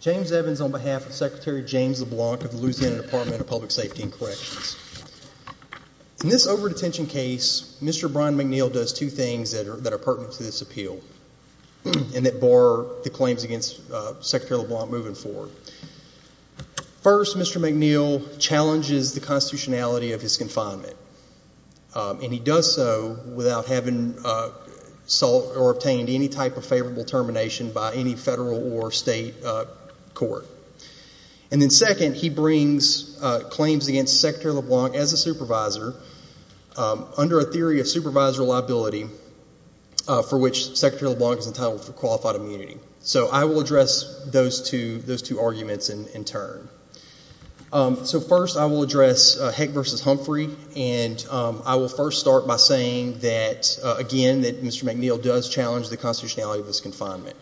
James Evans v. Secretary James LeBlanc In this over-detention case, Mr. Brian McNeal does two things that are pertinent to this appeal, and that bar the claims against Secretary LeBlanc moving forward. First, Mr. McNeal challenges the constitutionality of his confinement, and he does so without having sought or obtained any type of favorable termination by any federal or state court. Second, he brings claims against Secretary LeBlanc as a supervisor under a theory of supervisor liability for which Secretary LeBlanc is entitled for qualified immunity. I will address those two arguments in turn. First, I will address Heck v. Humphrey. I will first start by saying that, again, Mr. McNeal does challenge the constitutionality of his confinement.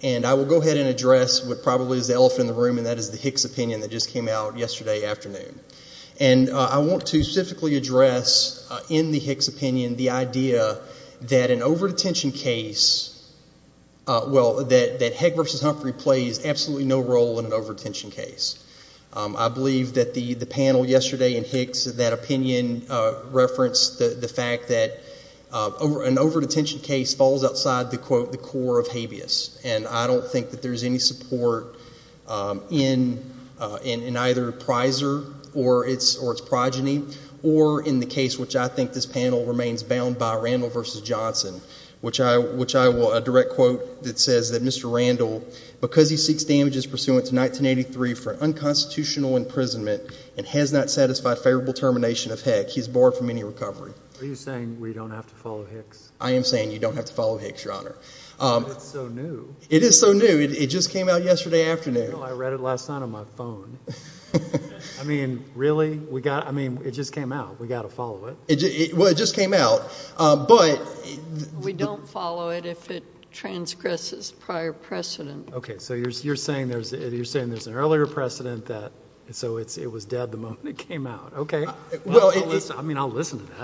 And I will go ahead and address what probably is the elephant in the room, and that is the Hicks opinion that just came out yesterday afternoon. And I want to specifically address in the Hicks opinion the idea that an over-detention case, well, that Heck v. Humphrey plays absolutely no role in an over-detention case. I believe that the panel yesterday in Hicks, that opinion referenced the fact that an over-detention case falls outside the, quote, the core of habeas. And I don't think that there's any support in either Prizer or its progeny or in the case which I think this panel remains bound by, Randall v. Johnson, which I will direct quote that says that Mr. Randall, because he seeks damages pursuant to 1983 for unconstitutional imprisonment and has not satisfied favorable termination of Heck, he is barred from any recovery. Are you saying we don't have to follow Hicks? I am saying you don't have to follow Hicks, Your Honor. But it's so new. It is so new. It just came out yesterday afternoon. No, I read it last night on my phone. I mean, really? I mean, it just came out. We've got to follow it. Well, it just came out. We don't follow it if it transgresses prior precedent. Okay. So you're saying there's an earlier precedent, so it was dead the moment it came out. Okay. I mean, I'll listen to that.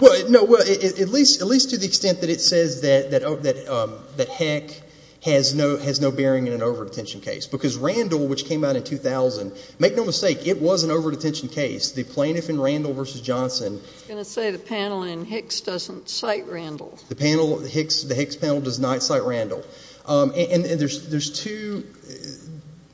Well, no, at least to the extent that it says that Heck has no bearing in an over-detention case, because Randall, which came out in 2000, make no mistake, it was an over-detention case. The plaintiff in Randall v. Johnson. I was going to say the panel in Hicks doesn't cite Randall. The Hicks panel does not cite Randall. And there's two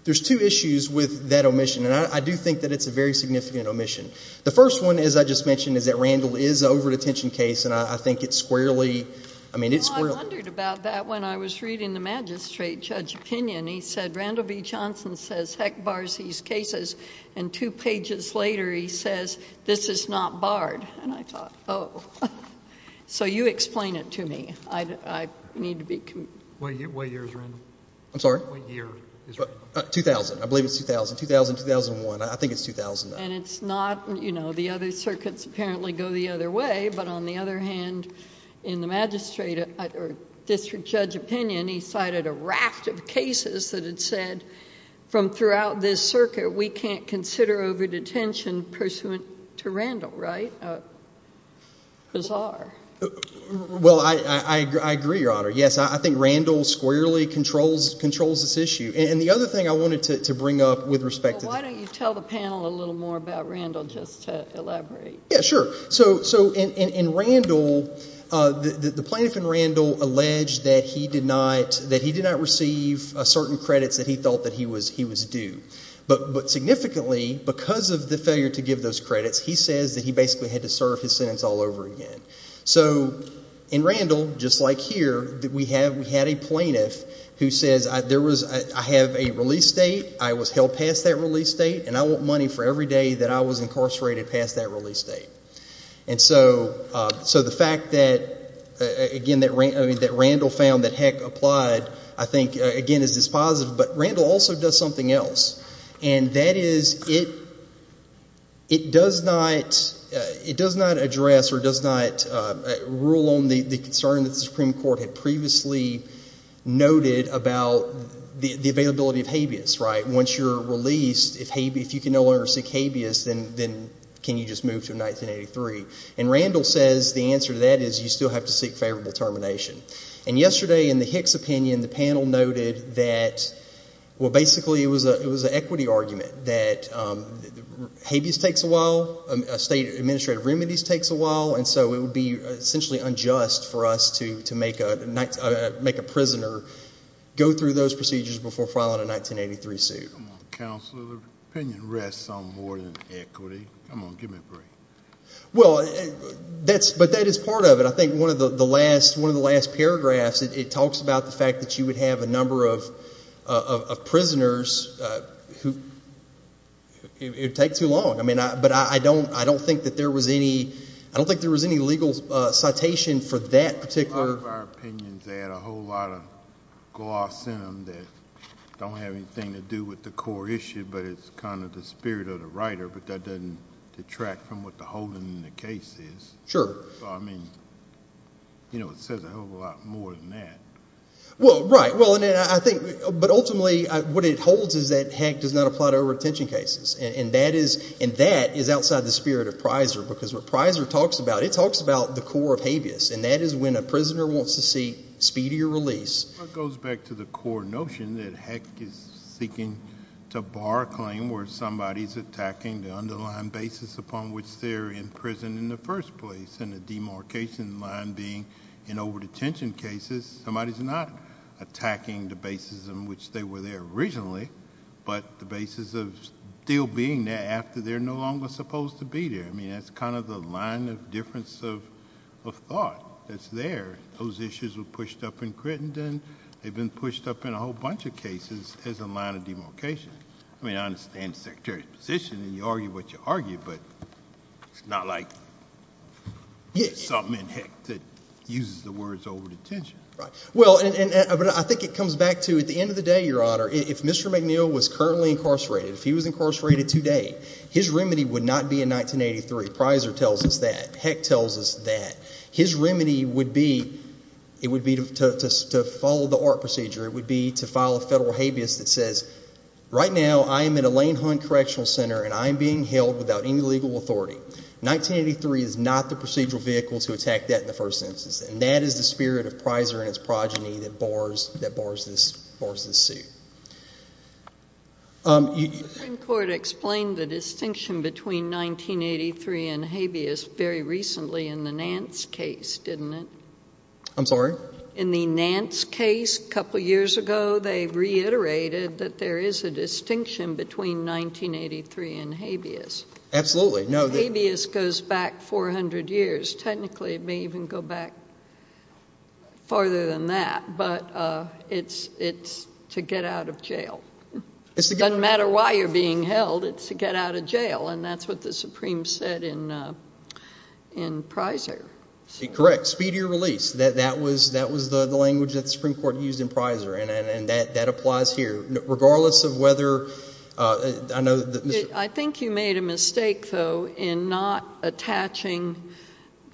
issues with that omission, and I do think that it's a very significant omission. The first one, as I just mentioned, is that Randall is an over-detention case, and I think it's squarely... Well, I wondered about that when I was reading the magistrate judge opinion. He said Randall v. Johnson says Heck bars these cases, and two pages later he says this is not barred. And I thought, oh. So you explain it to me. I need to be... What year is Randall? I'm sorry? What year is Randall? 2000. I believe it's 2000. 2000, 2001. I think it's 2009. And it's not... You know, the other circuits apparently go the other way, but on the other hand, in the magistrate or district judge opinion, he cited a raft of cases that had said from throughout this circuit we can't consider over-detention pursuant to Randall, right? Bizarre. Well, I agree, Your Honor. Yes, I think Randall squarely controls this issue. And the other thing I wanted to bring up with respect to this. Well, why don't you tell the panel a little more about Randall just to elaborate? Yeah, sure. So in Randall, the plaintiff in Randall alleged that he did not receive certain credits that he thought that he was due. But significantly, because of the failure to give those credits, he says that he basically had to serve his sentence all over again. So in Randall, just like here, we had a plaintiff who says I have a release date, I was held past that release date, and I want money for every day that I was incarcerated past that release date. And so the fact that, again, that Randall found that Heck applied, I think, again, is positive. But Randall also does something else. And that is it does not address or does not rule on the concern that the Supreme Court had previously noted about the availability of habeas, right? Once you're released, if you can no longer seek habeas, then can you just move to 1983? And Randall says the answer to that is you still have to seek favorable termination. And yesterday in the Heck's opinion, the panel noted that, well, basically it was an equity argument, that habeas takes a while, state administrative remedies takes a while, and so it would be essentially unjust for us to make a prisoner go through those procedures before filing a 1983 suit. Come on, counsel. The opinion rests on more than equity. Come on, give me a break. Well, but that is part of it. I think one of the last paragraphs, it talks about the fact that you would have a number of prisoners who it would take too long. I mean, but I don't think that there was any legal citation for that particular. A lot of our opinions, they had a whole lot of gloss in them that don't have anything to do with the core issue, but it's kind of the spirit of the writer, but that doesn't detract from what the whole in the case is. Sure. I mean, you know, it says a whole lot more than that. Well, right. Well, and I think, but ultimately what it holds is that Heck does not apply to over-attention cases, and that is outside the spirit of Prysor because what Prysor talks about, it talks about the core of habeas, and that is when a prisoner wants to seek speedier release. Well, it goes back to the core notion that Heck is seeking to bar a claim where somebody's attacking the underlying basis upon which they're in prison in the first place, and the demarcation line being in over-detention cases, somebody's not attacking the basis on which they were there originally, but the basis of still being there after they're no longer supposed to be there. I mean, that's kind of the line of difference of thought that's there. Those issues were pushed up in Crittenden. They've been pushed up in a whole bunch of cases as a line of demarcation. I mean, I understand the Secretary's position, and you argue what you argue, but it's not like something in Heck that uses the words over-detention. Well, and I think it comes back to at the end of the day, Your Honor, if Mr. McNeil was currently incarcerated, if he was incarcerated today, his remedy would not be in 1983. Prysor tells us that. Heck tells us that. His remedy would be to follow the ORT procedure. It would be to file a federal habeas that says, right now I am at a Lane Hunt Correctional Center and I am being held without any legal authority. 1983 is not the procedural vehicle to attack that in the first instance, and that is the spirit of Prysor and its progeny that bars this suit. The Supreme Court explained the distinction between 1983 and habeas very recently in the Nance case, didn't it? I'm sorry? In the Nance case a couple of years ago, they reiterated that there is a distinction between 1983 and habeas. Absolutely. Habeas goes back 400 years. Technically it may even go back farther than that, but it's to get out of jail. It doesn't matter why you're being held. It's to get out of jail, and that's what the Supreme said in Prysor. Correct. A speedier release. That was the language that the Supreme Court used in Prysor, and that applies here. Regardless of whether— I think you made a mistake, though, in not attaching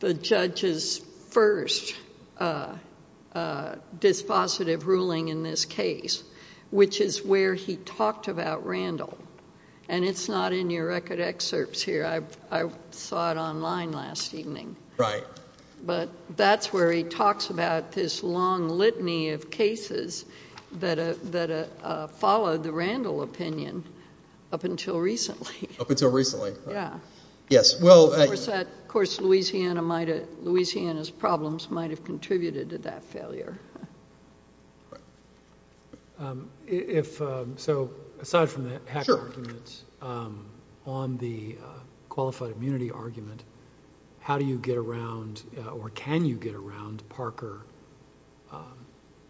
the judge's first dispositive ruling in this case, which is where he talked about Randall, and it's not in your record excerpts here. I saw it online last evening. Right. But that's where he talks about this long litany of cases that followed the Randall opinion up until recently. Up until recently. Yes. Of course, Louisiana's problems might have contributed to that failure. So aside from the hack argument, on the qualified immunity argument, how do you get around or can you get around Parker,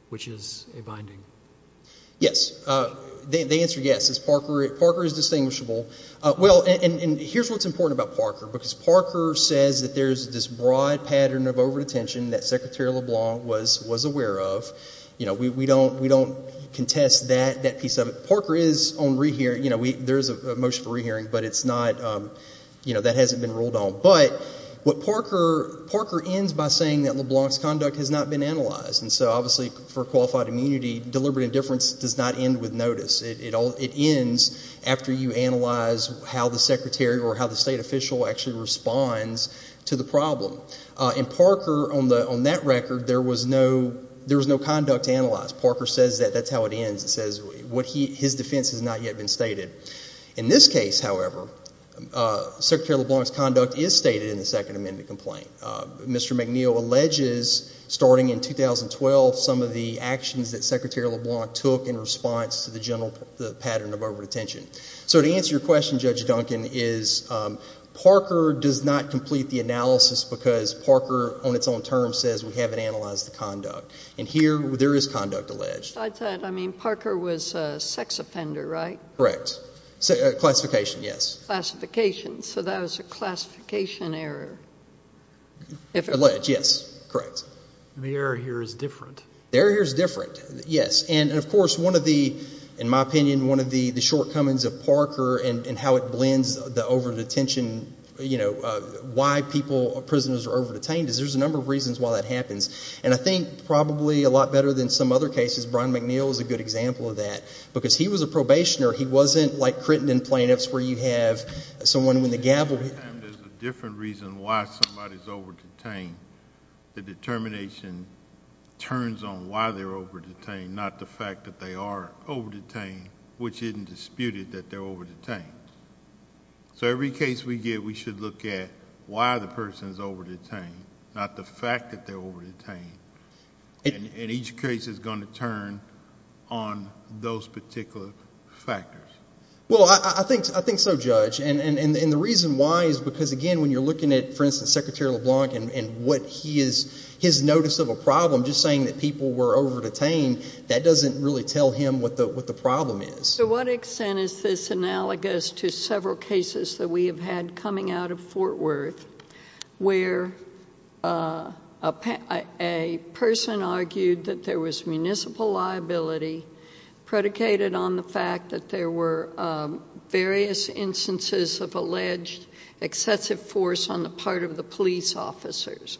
which is a binding? Yes. The answer is yes. Parker is distinguishable. Well, and here's what's important about Parker, because Parker says that there's this broad pattern of over-detention that Secretary LeBlanc was aware of. We don't contest that piece of it. Parker is on—there is a motion for rehearing, but it's not—that hasn't been ruled on. But what Parker—Parker ends by saying that LeBlanc's conduct has not been analyzed, and so obviously for qualified immunity, deliberate indifference does not end with notice. It ends after you analyze how the secretary or how the state official actually responds to the problem. In Parker, on that record, there was no—there was no conduct analyzed. Parker says that that's how it ends. It says what he—his defense has not yet been stated. In this case, however, Secretary LeBlanc's conduct is stated in the Second Amendment complaint. Mr. McNeil alleges, starting in 2012, some of the actions that Secretary LeBlanc took in response to the general—the pattern of over-detention. So to answer your question, Judge Duncan, is Parker does not complete the analysis because Parker, on its own term, says we haven't analyzed the conduct. And here, there is conduct alleged. I thought—I mean, Parker was a sex offender, right? Correct. Classification, yes. So that was a classification error. Alleged, yes. Correct. The error here is different. The error here is different, yes. And, of course, one of the—in my opinion, one of the shortcomings of Parker and how it blends the over-detention, you know, why people—prisoners are over-detained is there's a number of reasons why that happens. And I think probably a lot better than some other cases, Brian McNeil is a good example of that because he was a probationer. He wasn't like Crittenden plaintiffs where you have someone with a gavel. Sometimes there's a different reason why somebody is over-detained. The determination turns on why they're over-detained, not the fact that they are over-detained, which isn't disputed that they're over-detained. So every case we get, we should look at why the person is over-detained, not the fact that they're over-detained. And each case is going to turn on those particular factors. Well, I think so, Judge. And the reason why is because, again, when you're looking at, for instance, Secretary LeBlanc and what he is—his notice of a problem, just saying that people were over-detained, that doesn't really tell him what the problem is. To what extent is this analogous to several cases that we have had coming out of Fort Worth where a person argued that there was municipal liability predicated on the fact that there were various instances of alleged excessive force on the part of the police officers.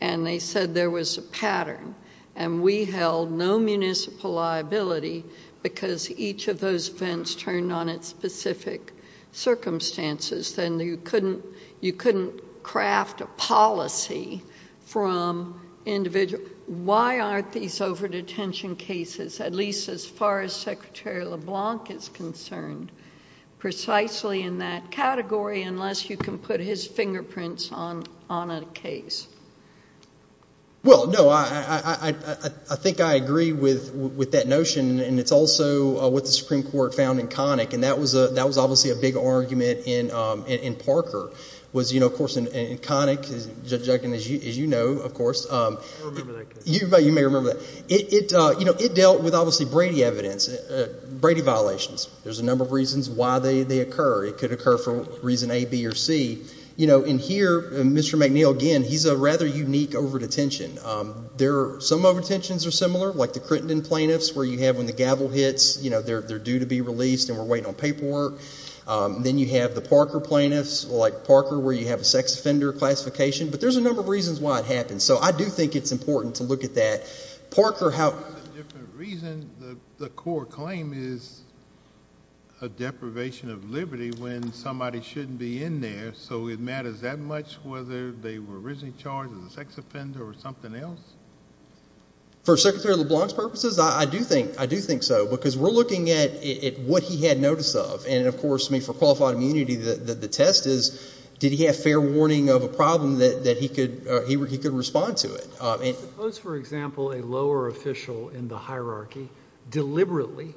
And they said there was a pattern, and we held no municipal liability because each of those events turned on its specific circumstances. Then you couldn't craft a policy from individual— why aren't these over-detention cases, at least as far as Secretary LeBlanc is concerned, precisely in that category unless you can put his fingerprints on a case? Well, no, I think I agree with that notion, and it's also what the Supreme Court found in Connick. And that was obviously a big argument in Parker. Of course, in Connick, Judge Duncan, as you know, of course— I don't remember that case. You may remember that. It dealt with, obviously, Brady evidence, Brady violations. There's a number of reasons why they occur. It could occur for reason A, B, or C. In here, Mr. McNeil, again, he's a rather unique over-detention. Some over-detentions are similar, like the Crittenden plaintiffs where you have when the gavel hits, you know, they're due to be released and we're waiting on paperwork. Then you have the Parker plaintiffs, like Parker, where you have a sex offender classification. But there's a number of reasons why it happens. So I do think it's important to look at that. Parker, how— It's a different reason. The core claim is a deprivation of liberty when somebody shouldn't be in there. So it matters that much whether they were originally charged as a sex offender or something else? For Secretary LeBlanc's purposes, I do think so, because we're looking at what he had notice of. And, of course, for qualified immunity, the test is did he have fair warning of a problem that he could respond to it? Suppose, for example, a lower official in the hierarchy deliberately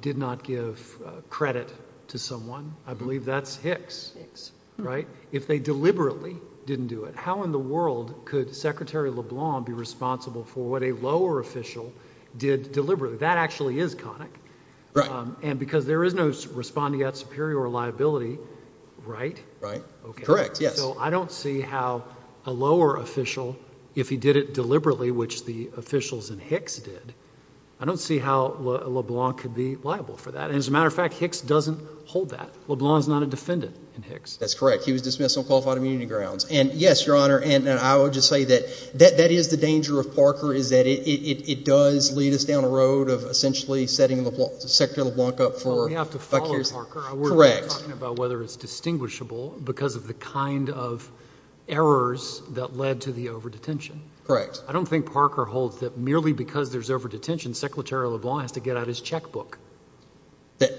did not give credit to someone. I believe that's Hicks, right? If they deliberately didn't do it, how in the world could Secretary LeBlanc be responsible for what a lower official did deliberately? That actually is conic. Right. And because there is no responding at superior liability, right? Right. Correct, yes. So I don't see how a lower official, if he did it deliberately, which the officials in Hicks did, I don't see how LeBlanc could be liable for that. And, as a matter of fact, Hicks doesn't hold that. LeBlanc is not a defendant in Hicks. That's correct. He was dismissed on qualified immunity grounds. And, yes, Your Honor, and I would just say that that is the danger of Parker, is that it does lead us down a road of essentially setting Secretary LeBlanc up for vicarious liability. We have to follow Parker. Correct. We're talking about whether it's distinguishable because of the kind of errors that led to the over-detention. Correct. I don't think Parker holds that merely because there's over-detention, Secretary LeBlanc has to get out his checkbook.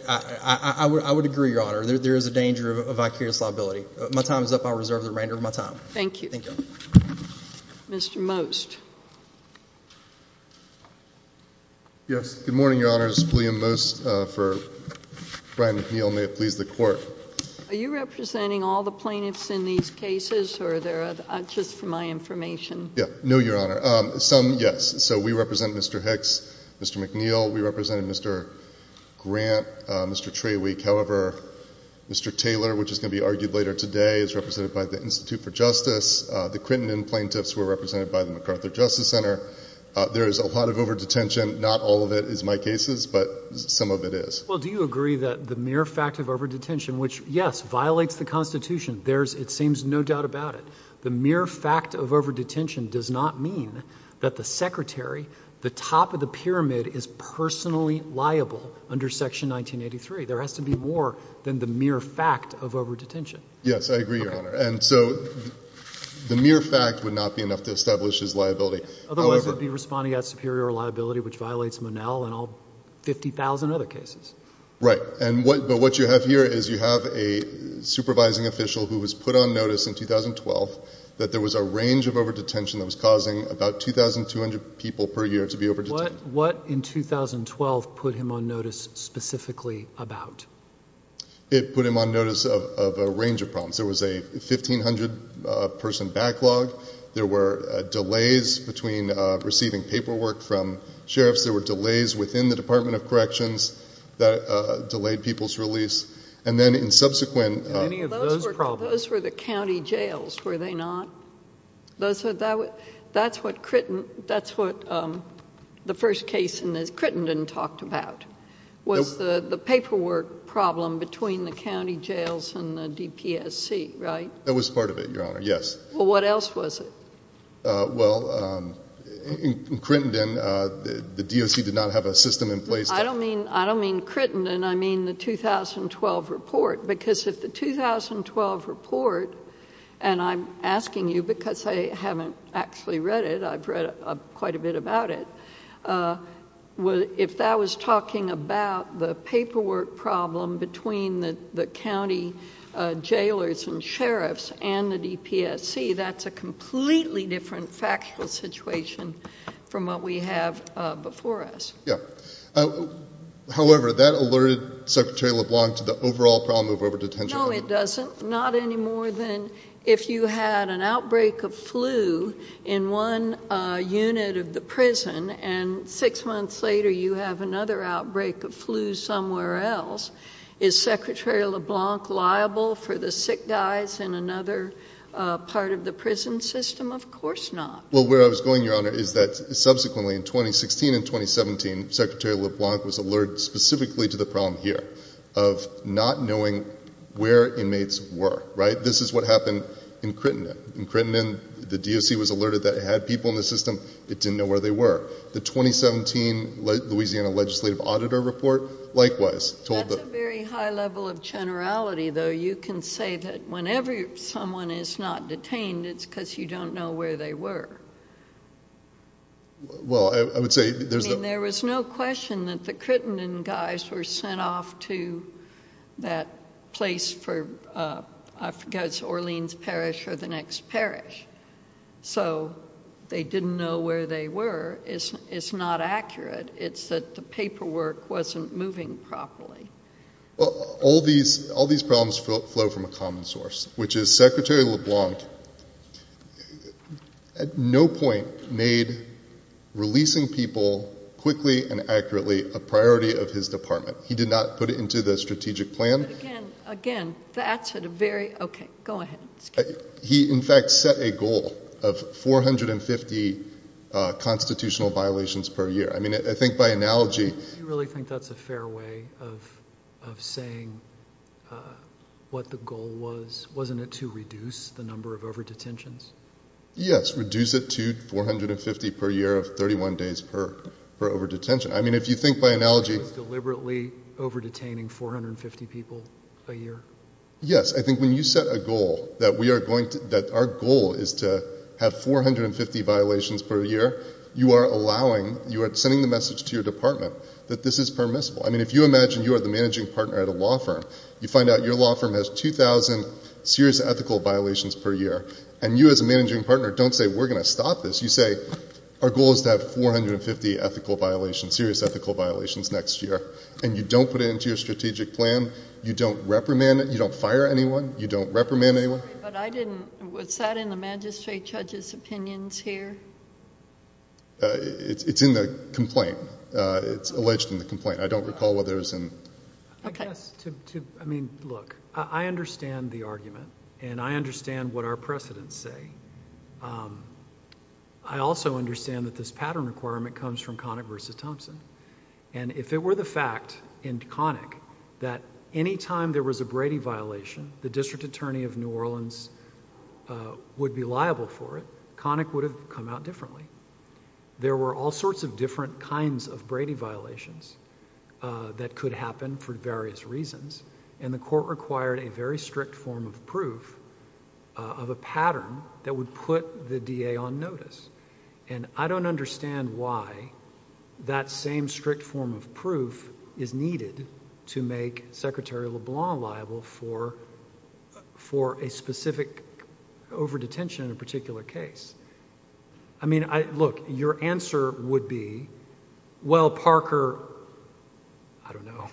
I would agree, Your Honor. There is a danger of vicarious liability. My time is up. I reserve the remainder of my time. Thank you. Thank you. Mr. Most. Yes. Good morning, Your Honor. This is William Most for Brian McNeil. May it please the Court. Are you representing all the plaintiffs in these cases or are they just for my information? No, Your Honor. Some, yes. So we represent Mr. Hicks, Mr. McNeil. We represent Mr. Grant, Mr. Trawick. However, Mr. Taylor, which is going to be argued later today, is represented by the Institute for Justice. The Quinton and plaintiffs were represented by the MacArthur Justice Center. There is a lot of over-detention. Not all of it is my cases, but some of it is. Well, do you agree that the mere fact of over-detention, which, yes, violates the Constitution, there's it seems no doubt about it. The mere fact of over-detention does not mean that the secretary, the top of the pyramid, is personally liable under Section 1983. There has to be more than the mere fact of over-detention. Yes, I agree, Your Honor. And so the mere fact would not be enough to establish his liability. Otherwise, it would be responding as superior liability, which violates Monell and all 50,000 other cases. Right. But what you have here is you have a supervising official who was put on notice in 2012 that there was a range of over-detention that was causing about 2,200 people per year to be over-detained. What in 2012 put him on notice specifically about? It put him on notice of a range of problems. There was a 1,500-person backlog. There were delays between receiving paperwork from sheriffs. There were delays within the Department of Corrections that delayed people's release. And then in subsequent— And any of those problems— Those were the county jails, were they not? That's what Crittenden talked about, was the paperwork problem between the county jails and the DPSC, right? That was part of it, Your Honor, yes. Well, what else was it? Well, in Crittenden, the DOC did not have a system in place to— I don't mean Crittenden. I mean the 2012 report, because if the 2012 report—and I'm asking you because I haven't actually read it. I've read quite a bit about it. If that was talking about the paperwork problem between the county jailers and sheriffs and the DPSC, that's a completely different factual situation from what we have before us. However, that alerted Secretary LeBlanc to the overall problem of over-detention. No, it doesn't. Not any more than if you had an outbreak of flu in one unit of the prison and six months later you have another outbreak of flu somewhere else. Is Secretary LeBlanc liable for the sick guys in another part of the prison system? Of course not. Well, where I was going, Your Honor, is that subsequently in 2016 and 2017, Secretary LeBlanc was alerted specifically to the problem here of not knowing where inmates were, right? This is what happened in Crittenden. In Crittenden, the DOC was alerted that it had people in the system. It didn't know where they were. The 2017 Louisiana Legislative Auditor Report likewise told the— That's a very high level of generality, though. You can say that whenever someone is not detained, it's because you don't know where they were. Well, I would say there's no— I mean, there was no question that the Crittenden guys were sent off to that place for, I forget, Orleans Parish or the next parish. So they didn't know where they were. It's not accurate. It's that the paperwork wasn't moving properly. Well, all these problems flow from a common source, which is Secretary LeBlanc at no point made releasing people quickly and accurately a priority of his department. He did not put it into the strategic plan. Again, again, that's at a very—okay, go ahead. He, in fact, set a goal of 450 constitutional violations per year. I mean, I think by analogy— Do you really think that's a fair way of saying what the goal was? Wasn't it to reduce the number of overdetentions? Yes, reduce it to 450 per year of 31 days per overdetention. I mean, if you think by analogy— Deliberately overdetaining 450 people a year? Yes, I think when you set a goal that we are going to—that our goal is to have 450 violations per year, you are allowing—you are sending the message to your department that this is permissible. I mean, if you imagine you are the managing partner at a law firm, you find out your law firm has 2,000 serious ethical violations per year, and you as a managing partner don't say, we're going to stop this. You say, our goal is to have 450 ethical violations, serious ethical violations next year, and you don't put it into your strategic plan. You don't reprimand—you don't fire anyone. You don't reprimand anyone. But I didn't—was that in the magistrate judge's opinions here? It's in the complaint. It's alleged in the complaint. I don't recall whether it was in— I guess to—I mean, look, I understand the argument, and I understand what our precedents say. I also understand that this pattern requirement comes from Connick v. Thompson. If it were the fact in Connick that any time there was a Brady violation, the district attorney of New Orleans would be liable for it, Connick would have come out differently. There were all sorts of different kinds of Brady violations that could happen for various reasons, and the court required a very strict form of proof of a pattern that would put the DA on notice. And I don't understand why that same strict form of proof is needed to make Secretary LeBlanc liable for a specific overdetention in a particular case. I mean, look, your answer would be, well, Parker—I don't know.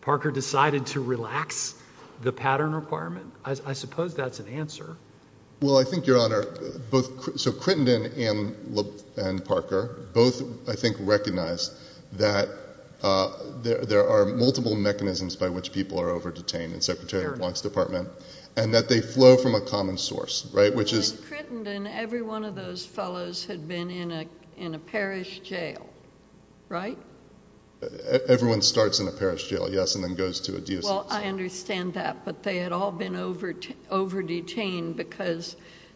Parker decided to relax the pattern requirement? I suppose that's an answer. Well, I think, Your Honor, both—so Crittenden and Parker both, I think, recognized that there are multiple mechanisms by which people are overdetained in Secretary LeBlanc's department and that they flow from a common source, right, which is— In Crittenden, every one of those fellows had been in a parish jail, right? Everyone starts in a parish jail, yes, and then goes to a diocese. Well, I understand that, but they had all been overdetained because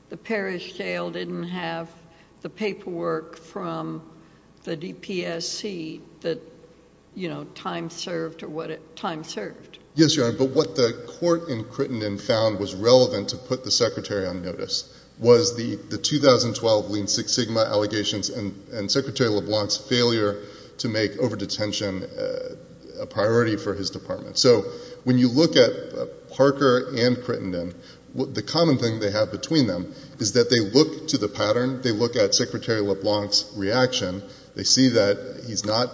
the parish jail didn't have the paperwork from the DPSC that, you know, time served or what time served. Yes, Your Honor, but what the court in Crittenden found was relevant to put the secretary on notice was the 2012 Lean Six Sigma allegations and Secretary LeBlanc's failure to make overdetention a priority for his department. So when you look at Parker and Crittenden, the common thing they have between them is that they look to the pattern. They look at Secretary LeBlanc's reaction. They see that he's not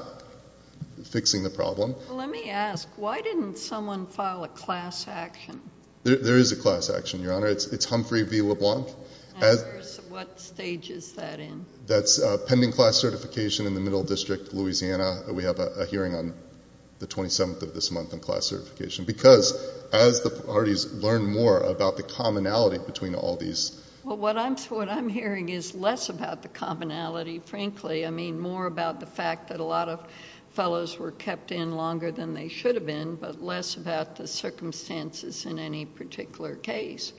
fixing the problem. Well, let me ask, why didn't someone file a class action? There is a class action, Your Honor. It's Humphrey v. LeBlanc. And what stage is that in? That's pending class certification in the Middle District, Louisiana. We have a hearing on the 27th of this month on class certification because as the parties learn more about the commonality between all these. Well, what I'm hearing is less about the commonality, frankly. I mean more about the fact that a lot of fellows were kept in longer than they should have been but less about the circumstances in any particular case.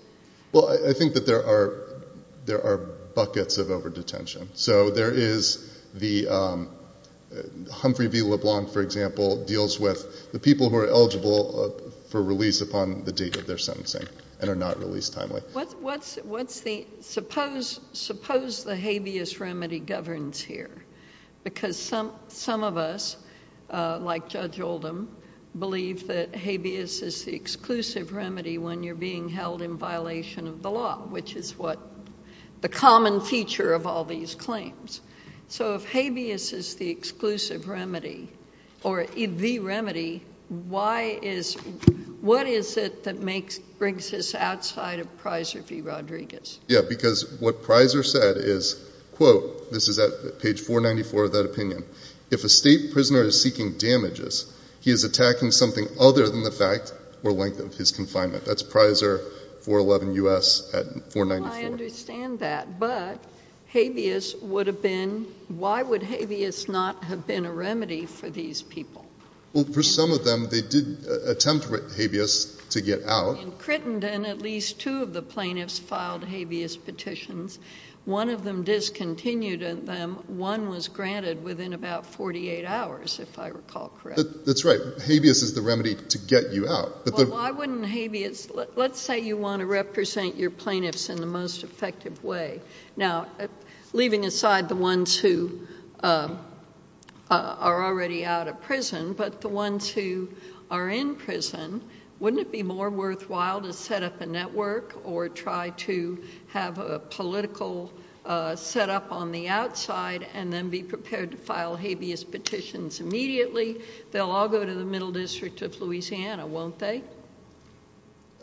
Well, I think that there are buckets of overdetention. So there is the Humphrey v. LeBlanc, for example, deals with the people who are eligible for release upon the date of their sentencing and are not released timely. Suppose the habeas remedy governs here because some of us, like Judge Oldham, believe that habeas is the exclusive remedy when you're being held in violation of the law, which is the common feature of all these claims. So if habeas is the exclusive remedy or the remedy, what is it that brings us outside of Prysor v. Rodriguez? Yeah, because what Prysor said is, quote, this is at page 494 of that opinion, if a state prisoner is seeking damages, he is attacking something other than the fact or length of his confinement. That's Prysor 411 U.S. at 494. Well, I understand that. But habeas would have been — why would habeas not have been a remedy for these people? Well, for some of them, they did attempt habeas to get out. In Crittenden, at least two of the plaintiffs filed habeas petitions. One of them discontinued them. One was granted within about 48 hours, if I recall correctly. That's right. Habeas is the remedy to get you out. Well, why wouldn't habeas — let's say you want to represent your plaintiffs in the most effective way. Now, leaving aside the ones who are already out of prison, but the ones who are in prison, wouldn't it be more worthwhile to set up a network or try to have a political setup on the outside and then be prepared to file habeas petitions immediately? They'll all go to the Middle District of Louisiana, won't they?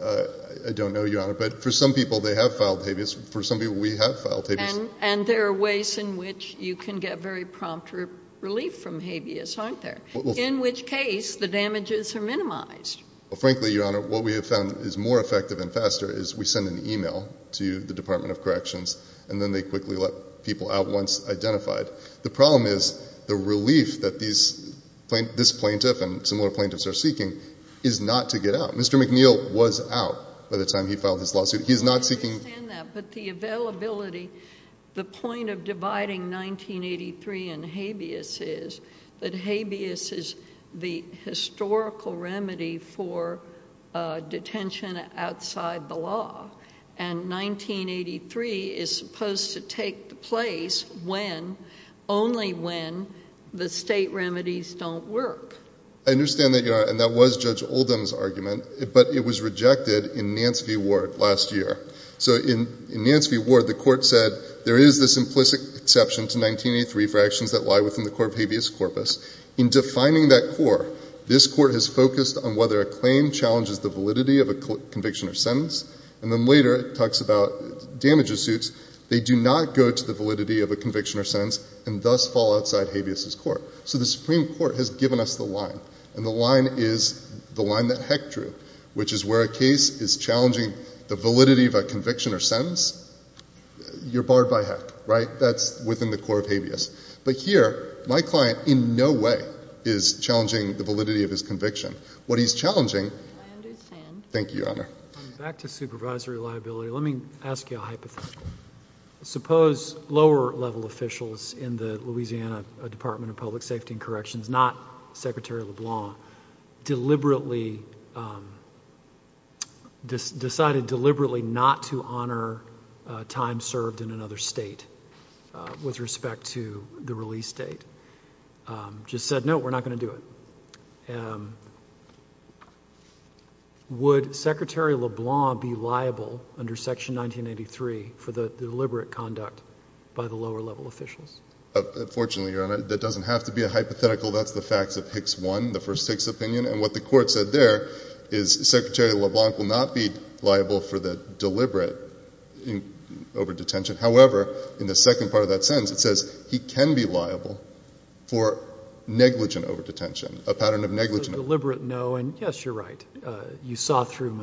I don't know, Your Honor. But for some people, they have filed habeas. For some people, we have filed habeas. And there are ways in which you can get very prompt relief from habeas, aren't there? In which case, the damages are minimized. Well, frankly, Your Honor, what we have found is more effective and faster is we send an email to the Department of Corrections, and then they quickly let people out once identified. The problem is the relief that this plaintiff and similar plaintiffs are seeking is not to get out. Mr. McNeil was out by the time he filed his lawsuit. He's not seeking— I understand that. But the availability, the point of dividing 1983 and habeas is that habeas is the historical remedy for detention outside the law. And 1983 is supposed to take place when, only when, the state remedies don't work. I understand that, Your Honor, and that was Judge Oldham's argument, but it was rejected in Nance v. Ward last year. So in Nance v. Ward, the court said there is this implicit exception to 1983 for actions that lie within the core of habeas corpus. In defining that core, this court has focused on whether a claim challenges the validity of a conviction or sentence, and then later it talks about damages suits. They do not go to the validity of a conviction or sentence and thus fall outside habeas' court. So the Supreme Court has given us the line, and the line is the line that Heck drew, which is where a case is challenging the validity of a conviction or sentence, you're barred by Heck, right? That's within the core of habeas. But here, my client in no way is challenging the validity of his conviction. I understand. Thank you, Your Honor. Back to supervisory liability. Let me ask you a hypothetical. Suppose lower-level officials in the Louisiana Department of Public Safety and Corrections, not Secretary LeBlanc, deliberately decided not to honor time served in another state with respect to the release date, just said, no, we're not going to do it. Would Secretary LeBlanc be liable under Section 1983 for the deliberate conduct by the lower-level officials? Fortunately, Your Honor, that doesn't have to be a hypothetical. That's the facts of Hicks 1, the first Hicks opinion, and what the court said there is Secretary LeBlanc will not be liable for the deliberate over-detention. However, in the second part of that sentence, it says he can be liable for negligent over-detention, a pattern of negligent over-detention. Deliberate, no, and yes, you're right. You saw through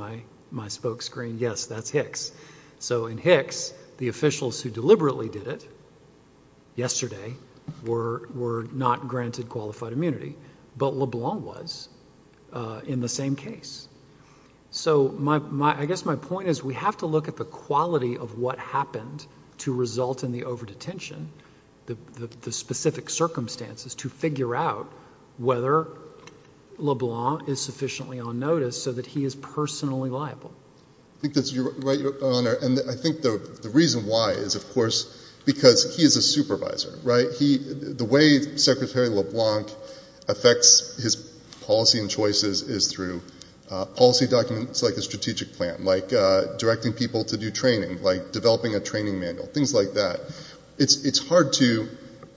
my spoke screen, yes, that's Hicks. So in Hicks, the officials who deliberately did it yesterday were not granted qualified immunity, but LeBlanc was in the same case. So I guess my point is we have to look at the quality of what happened to result in the over-detention, the specific circumstances to figure out whether LeBlanc is sufficiently on notice so that he is personally liable. I think that's right, Your Honor, and I think the reason why is, of course, because he is a supervisor, right? The way Secretary LeBlanc affects his policy and choices is through policy documents like a strategic plan, like directing people to do training, like developing a training manual, things like that. It's hard to,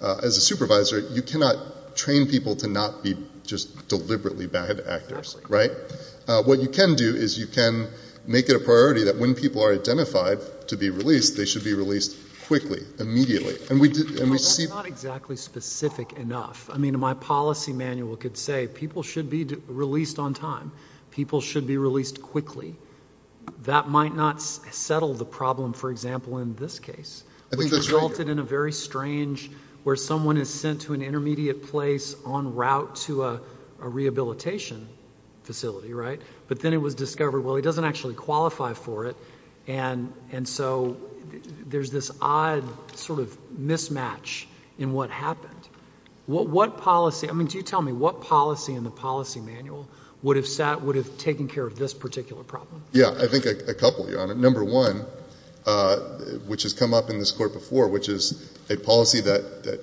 as a supervisor, you cannot train people to not be just deliberately bad actors, right? What you can do is you can make it a priority that when people are identified to be released, they should be released quickly, immediately. That's not exactly specific enough. I mean, my policy manual could say people should be released on time, people should be released quickly. That might not settle the problem, for example, in this case. I think that's right, Your Honor. Which resulted in a very strange where someone is sent to an intermediate place en route to a rehabilitation facility, right? But then it was discovered, well, he doesn't actually qualify for it, and so there's this odd sort of mismatch in what happened. What policy, I mean, do you tell me what policy in the policy manual would have taken care of this particular problem? Well, number one, which has come up in this court before, which is a policy that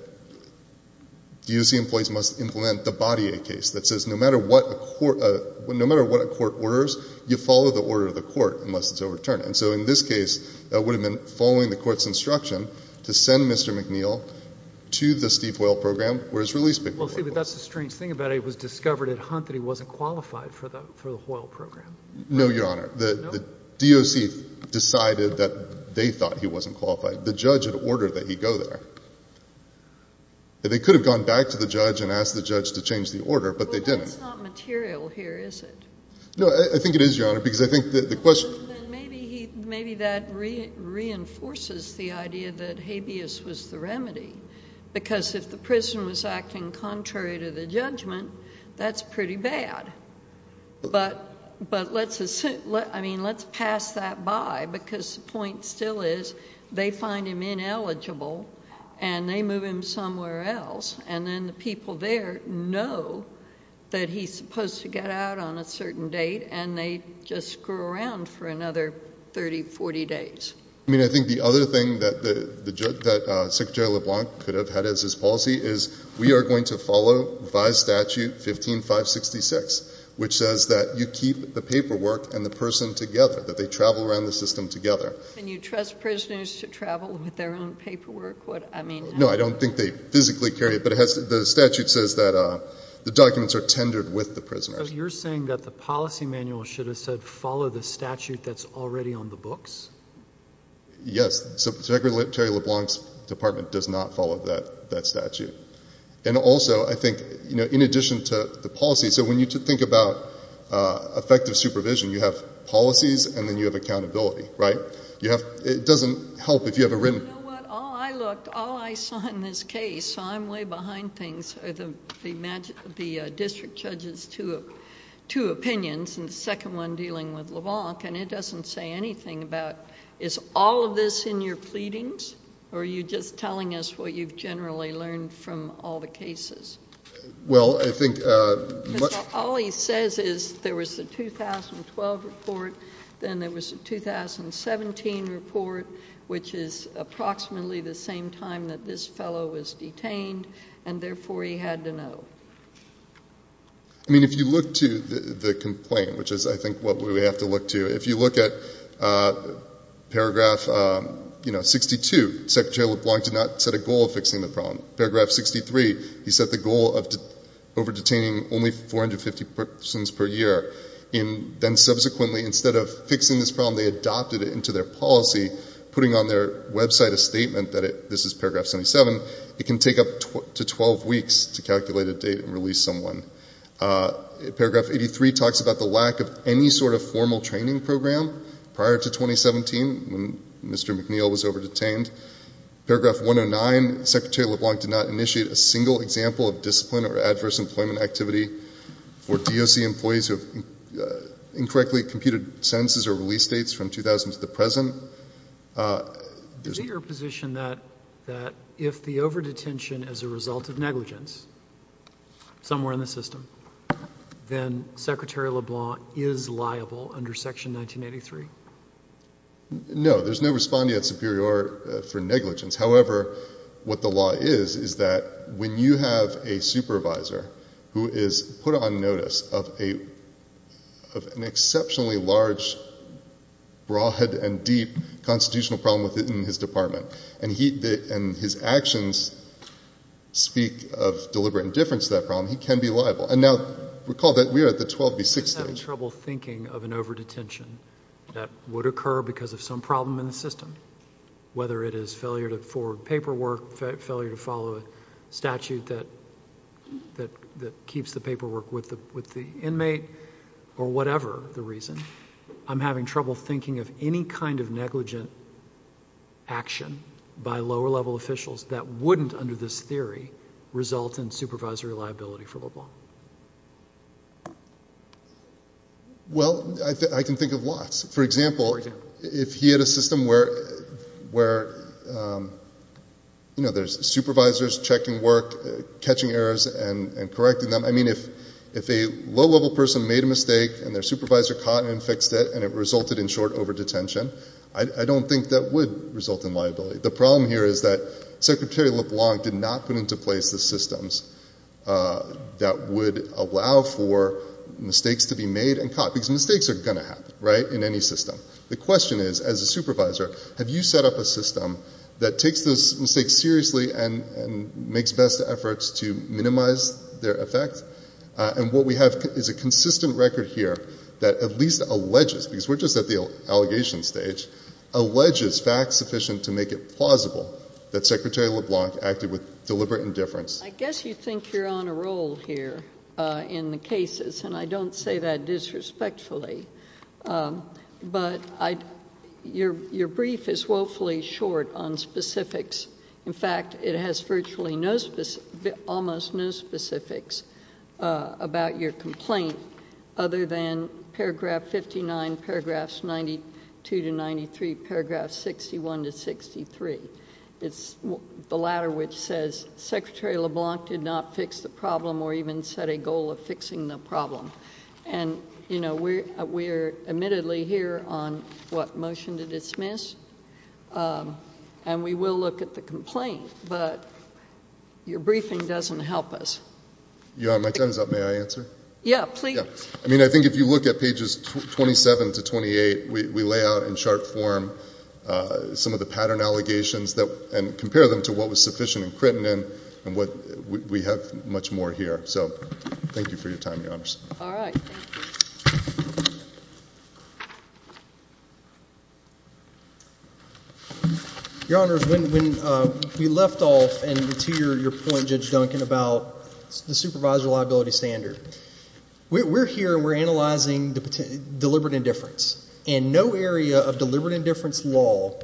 DOC employees must implement the Baudier case that says no matter what a court orders, you follow the order of the court unless it's overturned. And so in this case, that would have been following the court's instruction to send Mr. McNeil to the Steve Hoyle program where his release pick-up order was. Well, see, but that's the strange thing about it. It was discovered at Hunt that he wasn't qualified for the Hoyle program. No, Your Honor. The DOC decided that they thought he wasn't qualified. The judge had ordered that he go there. They could have gone back to the judge and asked the judge to change the order, but they didn't. Well, that's not material here, is it? No, I think it is, Your Honor, because I think the question— Then maybe that reinforces the idea that habeas was the remedy, because if the prison was acting contrary to the judgment, that's pretty bad. But let's pass that by because the point still is they find him ineligible and they move him somewhere else, and then the people there know that he's supposed to get out on a certain date, and they just screw around for another 30, 40 days. I mean, I think the other thing that Secretary LeBlanc could have had as his policy is we are going to follow VI statute 15566, which says that you keep the paperwork and the person together, that they travel around the system together. And you trust prisoners to travel with their own paperwork? No, I don't think they physically carry it, but the statute says that the documents are tendered with the prisoners. So you're saying that the policy manual should have said follow the statute that's already on the books? Yes, Secretary LeBlanc's department does not follow that statute. And also, I think, in addition to the policy, so when you think about effective supervision, you have policies and then you have accountability, right? It doesn't help if you have a written— You know what? All I looked, all I saw in this case, so I'm way behind things, the district judge's two opinions and the second one dealing with LeBlanc, and it doesn't say anything about is all of this in your pleadings or are you just telling us what you've generally learned from all the cases? Well, I think— Because all he says is there was the 2012 report, then there was the 2017 report, which is approximately the same time that this fellow was detained, and therefore he had to know. I mean, if you look to the complaint, which is, I think, what we have to look to, if you look at paragraph 62, Secretary LeBlanc did not set a goal of fixing the problem. Paragraph 63, he set the goal of over-detaining only 450 persons per year. And then subsequently, instead of fixing this problem, they adopted it into their policy, putting on their website a statement that it—this is paragraph 77— it can take up to 12 weeks to calculate a date and release someone. Paragraph 83 talks about the lack of any sort of formal training program prior to 2017, when Mr. McNeil was over-detained. Paragraph 109, Secretary LeBlanc did not initiate a single example of discipline or adverse employment activity for DOC employees who have incorrectly computed sentences or release dates from 2000 to the present. Is it your position that if the over-detention is a result of negligence somewhere in the system, then Secretary LeBlanc is liable under Section 1983? No, there's no respondeat superior for negligence. However, what the law is, is that when you have a supervisor who is put on notice of an exceptionally large, broad, and deep constitutional problem within his department, and his actions speak of deliberate indifference to that problem, he can be liable. And now, recall that we are at the 12 v. 6 stage. He's having trouble thinking of an over-detention that would occur because of some problem in the system, whether it is failure to forward paperwork, failure to follow a statute that keeps the paperwork with the inmate, or whatever the reason. I'm having trouble thinking of any kind of negligent action by lower-level officials that wouldn't, under this theory, result in supervisory liability for LeBlanc. Well, I can think of lots. For example, if he had a system where there's supervisors checking work, catching errors, and correcting them. If a low-level person made a mistake, and their supervisor caught and fixed it, and it resulted in short over-detention, I don't think that would result in liability. The problem here is that Secretary LeBlanc did not put into place the systems that would allow for mistakes to be made and caught, because mistakes are going to happen in any system. The question is, as a supervisor, have you set up a system that takes those mistakes seriously and makes best efforts to minimize their effect? And what we have is a consistent record here that at least alleges, because we're just at the allegation stage, alleges facts sufficient to make it plausible that Secretary LeBlanc acted with deliberate indifference. I guess you think you're on a roll here in the cases, and I don't say that disrespectfully. But your brief is woefully short on specifics. In fact, it has virtually almost no specifics about your complaint, other than Paragraph 59, Paragraphs 92 to 93, Paragraphs 61 to 63. It's the latter, which says, Secretary LeBlanc did not fix the problem or even set a goal of fixing the problem. And, you know, we're admittedly here on what motion to dismiss, and we will look at the complaint, but your briefing doesn't help us. Your Honor, my time is up. May I answer? Yeah, please. I mean, I think if you look at pages 27 to 28, we lay out in sharp form some of the pattern allegations and compare them to what was sufficient and critical and what we have much more here. So thank you for your time, Your Honor. All right. Thank you. Your Honor, when we left off and to your point, Judge Duncan, about the supervisor liability standard, we're here and we're analyzing deliberate indifference, and no area of deliberate indifference law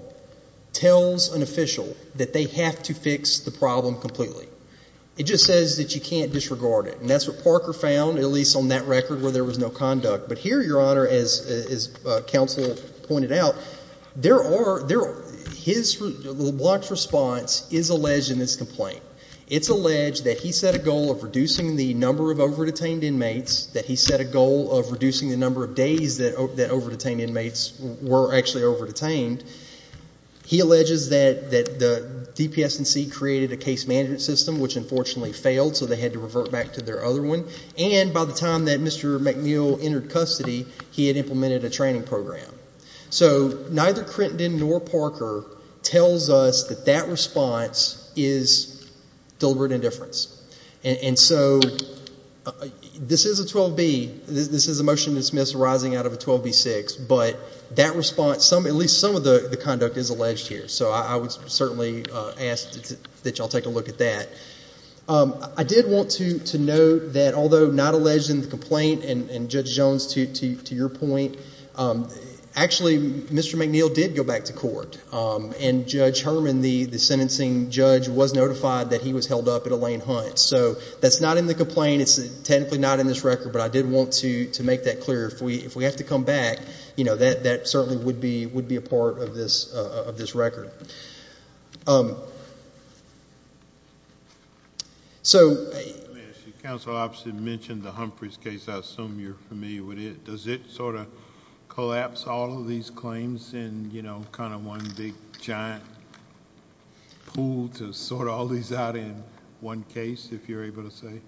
tells an official that they have to fix the problem completely. It just says that you can't disregard it, and that's what Parker found, at least on that record where there was no conduct. But here, Your Honor, as counsel pointed out, there are, his response is alleged in this complaint. It's alleged that he set a goal of reducing the number of over-detained inmates, that he set a goal of reducing the number of days that over-detained inmates were actually over-detained. He alleges that the DPS&C created a case management system, which unfortunately failed, so they had to revert back to their other one. And by the time that Mr. McNeil entered custody, he had implemented a training program. So neither Crinton nor Parker tells us that that response is deliberate indifference. And so this is a 12B, this is a motion to dismiss arising out of a 12B6, but that response, at least some of the conduct is alleged here. So I would certainly ask that you all take a look at that. I did want to note that although not alleged in the complaint, and Judge Jones, to your point, actually Mr. McNeil did go back to court, and Judge Herman, the sentencing judge, was notified that he was held up at Elaine Hunt. So that's not in the complaint. It's technically not in this record, but I did want to make that clear. If we have to come back, you know, that certainly would be a part of this record. So. As your counsel obviously mentioned the Humphreys case, I assume you're familiar with it. Does it sort of collapse all of these claims in, you know, kind of one big giant pool to sort all these out in one case, if you're able to say?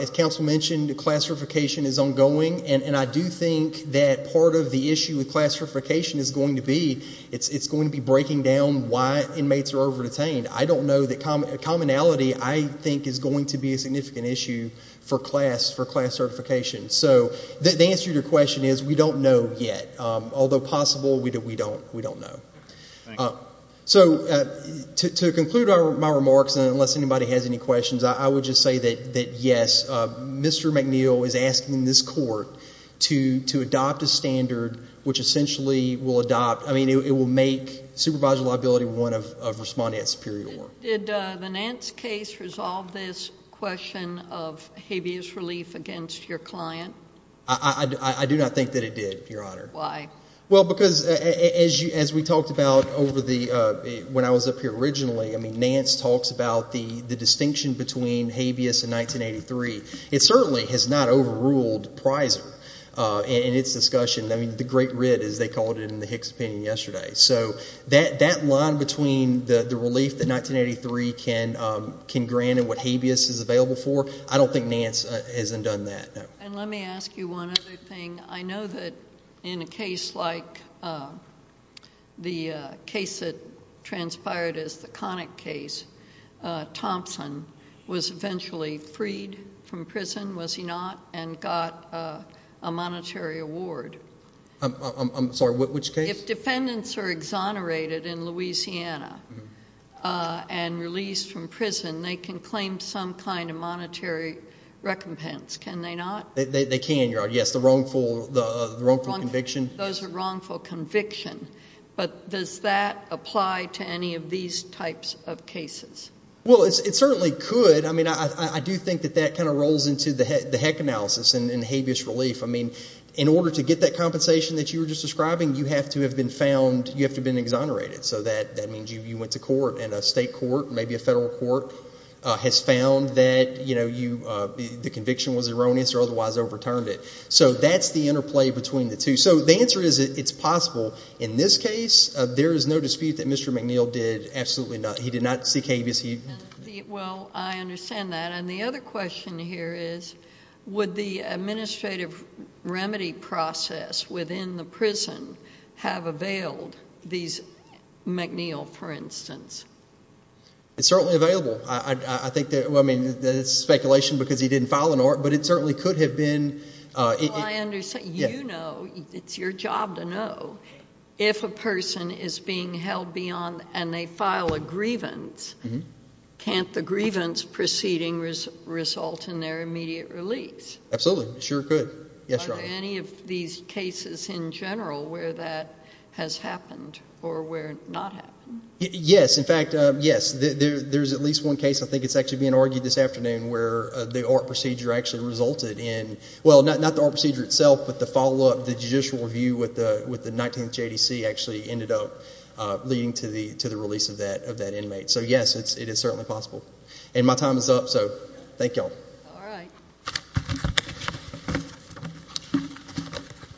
As counsel mentioned, the classification is ongoing, and I do think that part of the issue with classification is going to be it's going to be breaking down why inmates are over-detained. I don't know that commonality I think is going to be a significant issue for class certification. So the answer to your question is we don't know yet. Although possible, we don't know. So to conclude my remarks, and unless anybody has any questions, I would just say that, yes, Mr. McNeil is asking this court to adopt a standard which essentially will adopt. I mean, it will make supervisory liability one of responding at superior. Did the Nance case resolve this question of habeas relief against your client? I do not think that it did, Your Honor. Why? Well, because as we talked about when I was up here originally, I mean, Nance talks about the distinction between habeas and 1983. It certainly has not overruled prizer in its discussion. I mean, the great writ, as they called it in the Hicks opinion yesterday. So that line between the relief that 1983 can grant and what habeas is available for, I don't think Nance has done that. And let me ask you one other thing. I know that in a case like the case that transpired as the Connick case, Thompson was eventually freed from prison, was he not, and got a monetary award. I'm sorry. Which case? If defendants are exonerated in Louisiana and released from prison, they can claim some kind of monetary recompense, can they not? They can, Your Honor. Yes, the wrongful conviction. Those are wrongful conviction. But does that apply to any of these types of cases? Well, it certainly could. I mean, I do think that that kind of rolls into the heck analysis and habeas relief. I mean, in order to get that compensation that you were just describing, you have to have been found, you have to have been exonerated. So that means you went to court, and a state court, maybe a federal court, has found that the conviction was erroneous or otherwise overturned it. So that's the interplay between the two. So the answer is it's possible. In this case, there is no dispute that Mr. McNeil did absolutely nothing. He did not seek habeas. Well, I understand that. And the other question here is would the administrative remedy process within the prison have availed these McNeil, for instance? It's certainly available. I think that, well, I mean, it's speculation because he didn't file an order, but it certainly could have been. Well, I understand. You know, it's your job to know if a person is being held beyond and they file a grievance, can't the grievance proceeding result in their immediate release? Absolutely. It sure could. Yes, Your Honor. Are there any of these cases in general where that has happened or where it has not happened? Yes. In fact, yes. There's at least one case I think is actually being argued this afternoon where the ORT procedure actually resulted in, well, not the ORT procedure itself, but the follow-up, the judicial review with the 19th JDC actually ended up leading to the release of that inmate. So, yes, it is certainly possible. And my time is up, so thank you all. All right.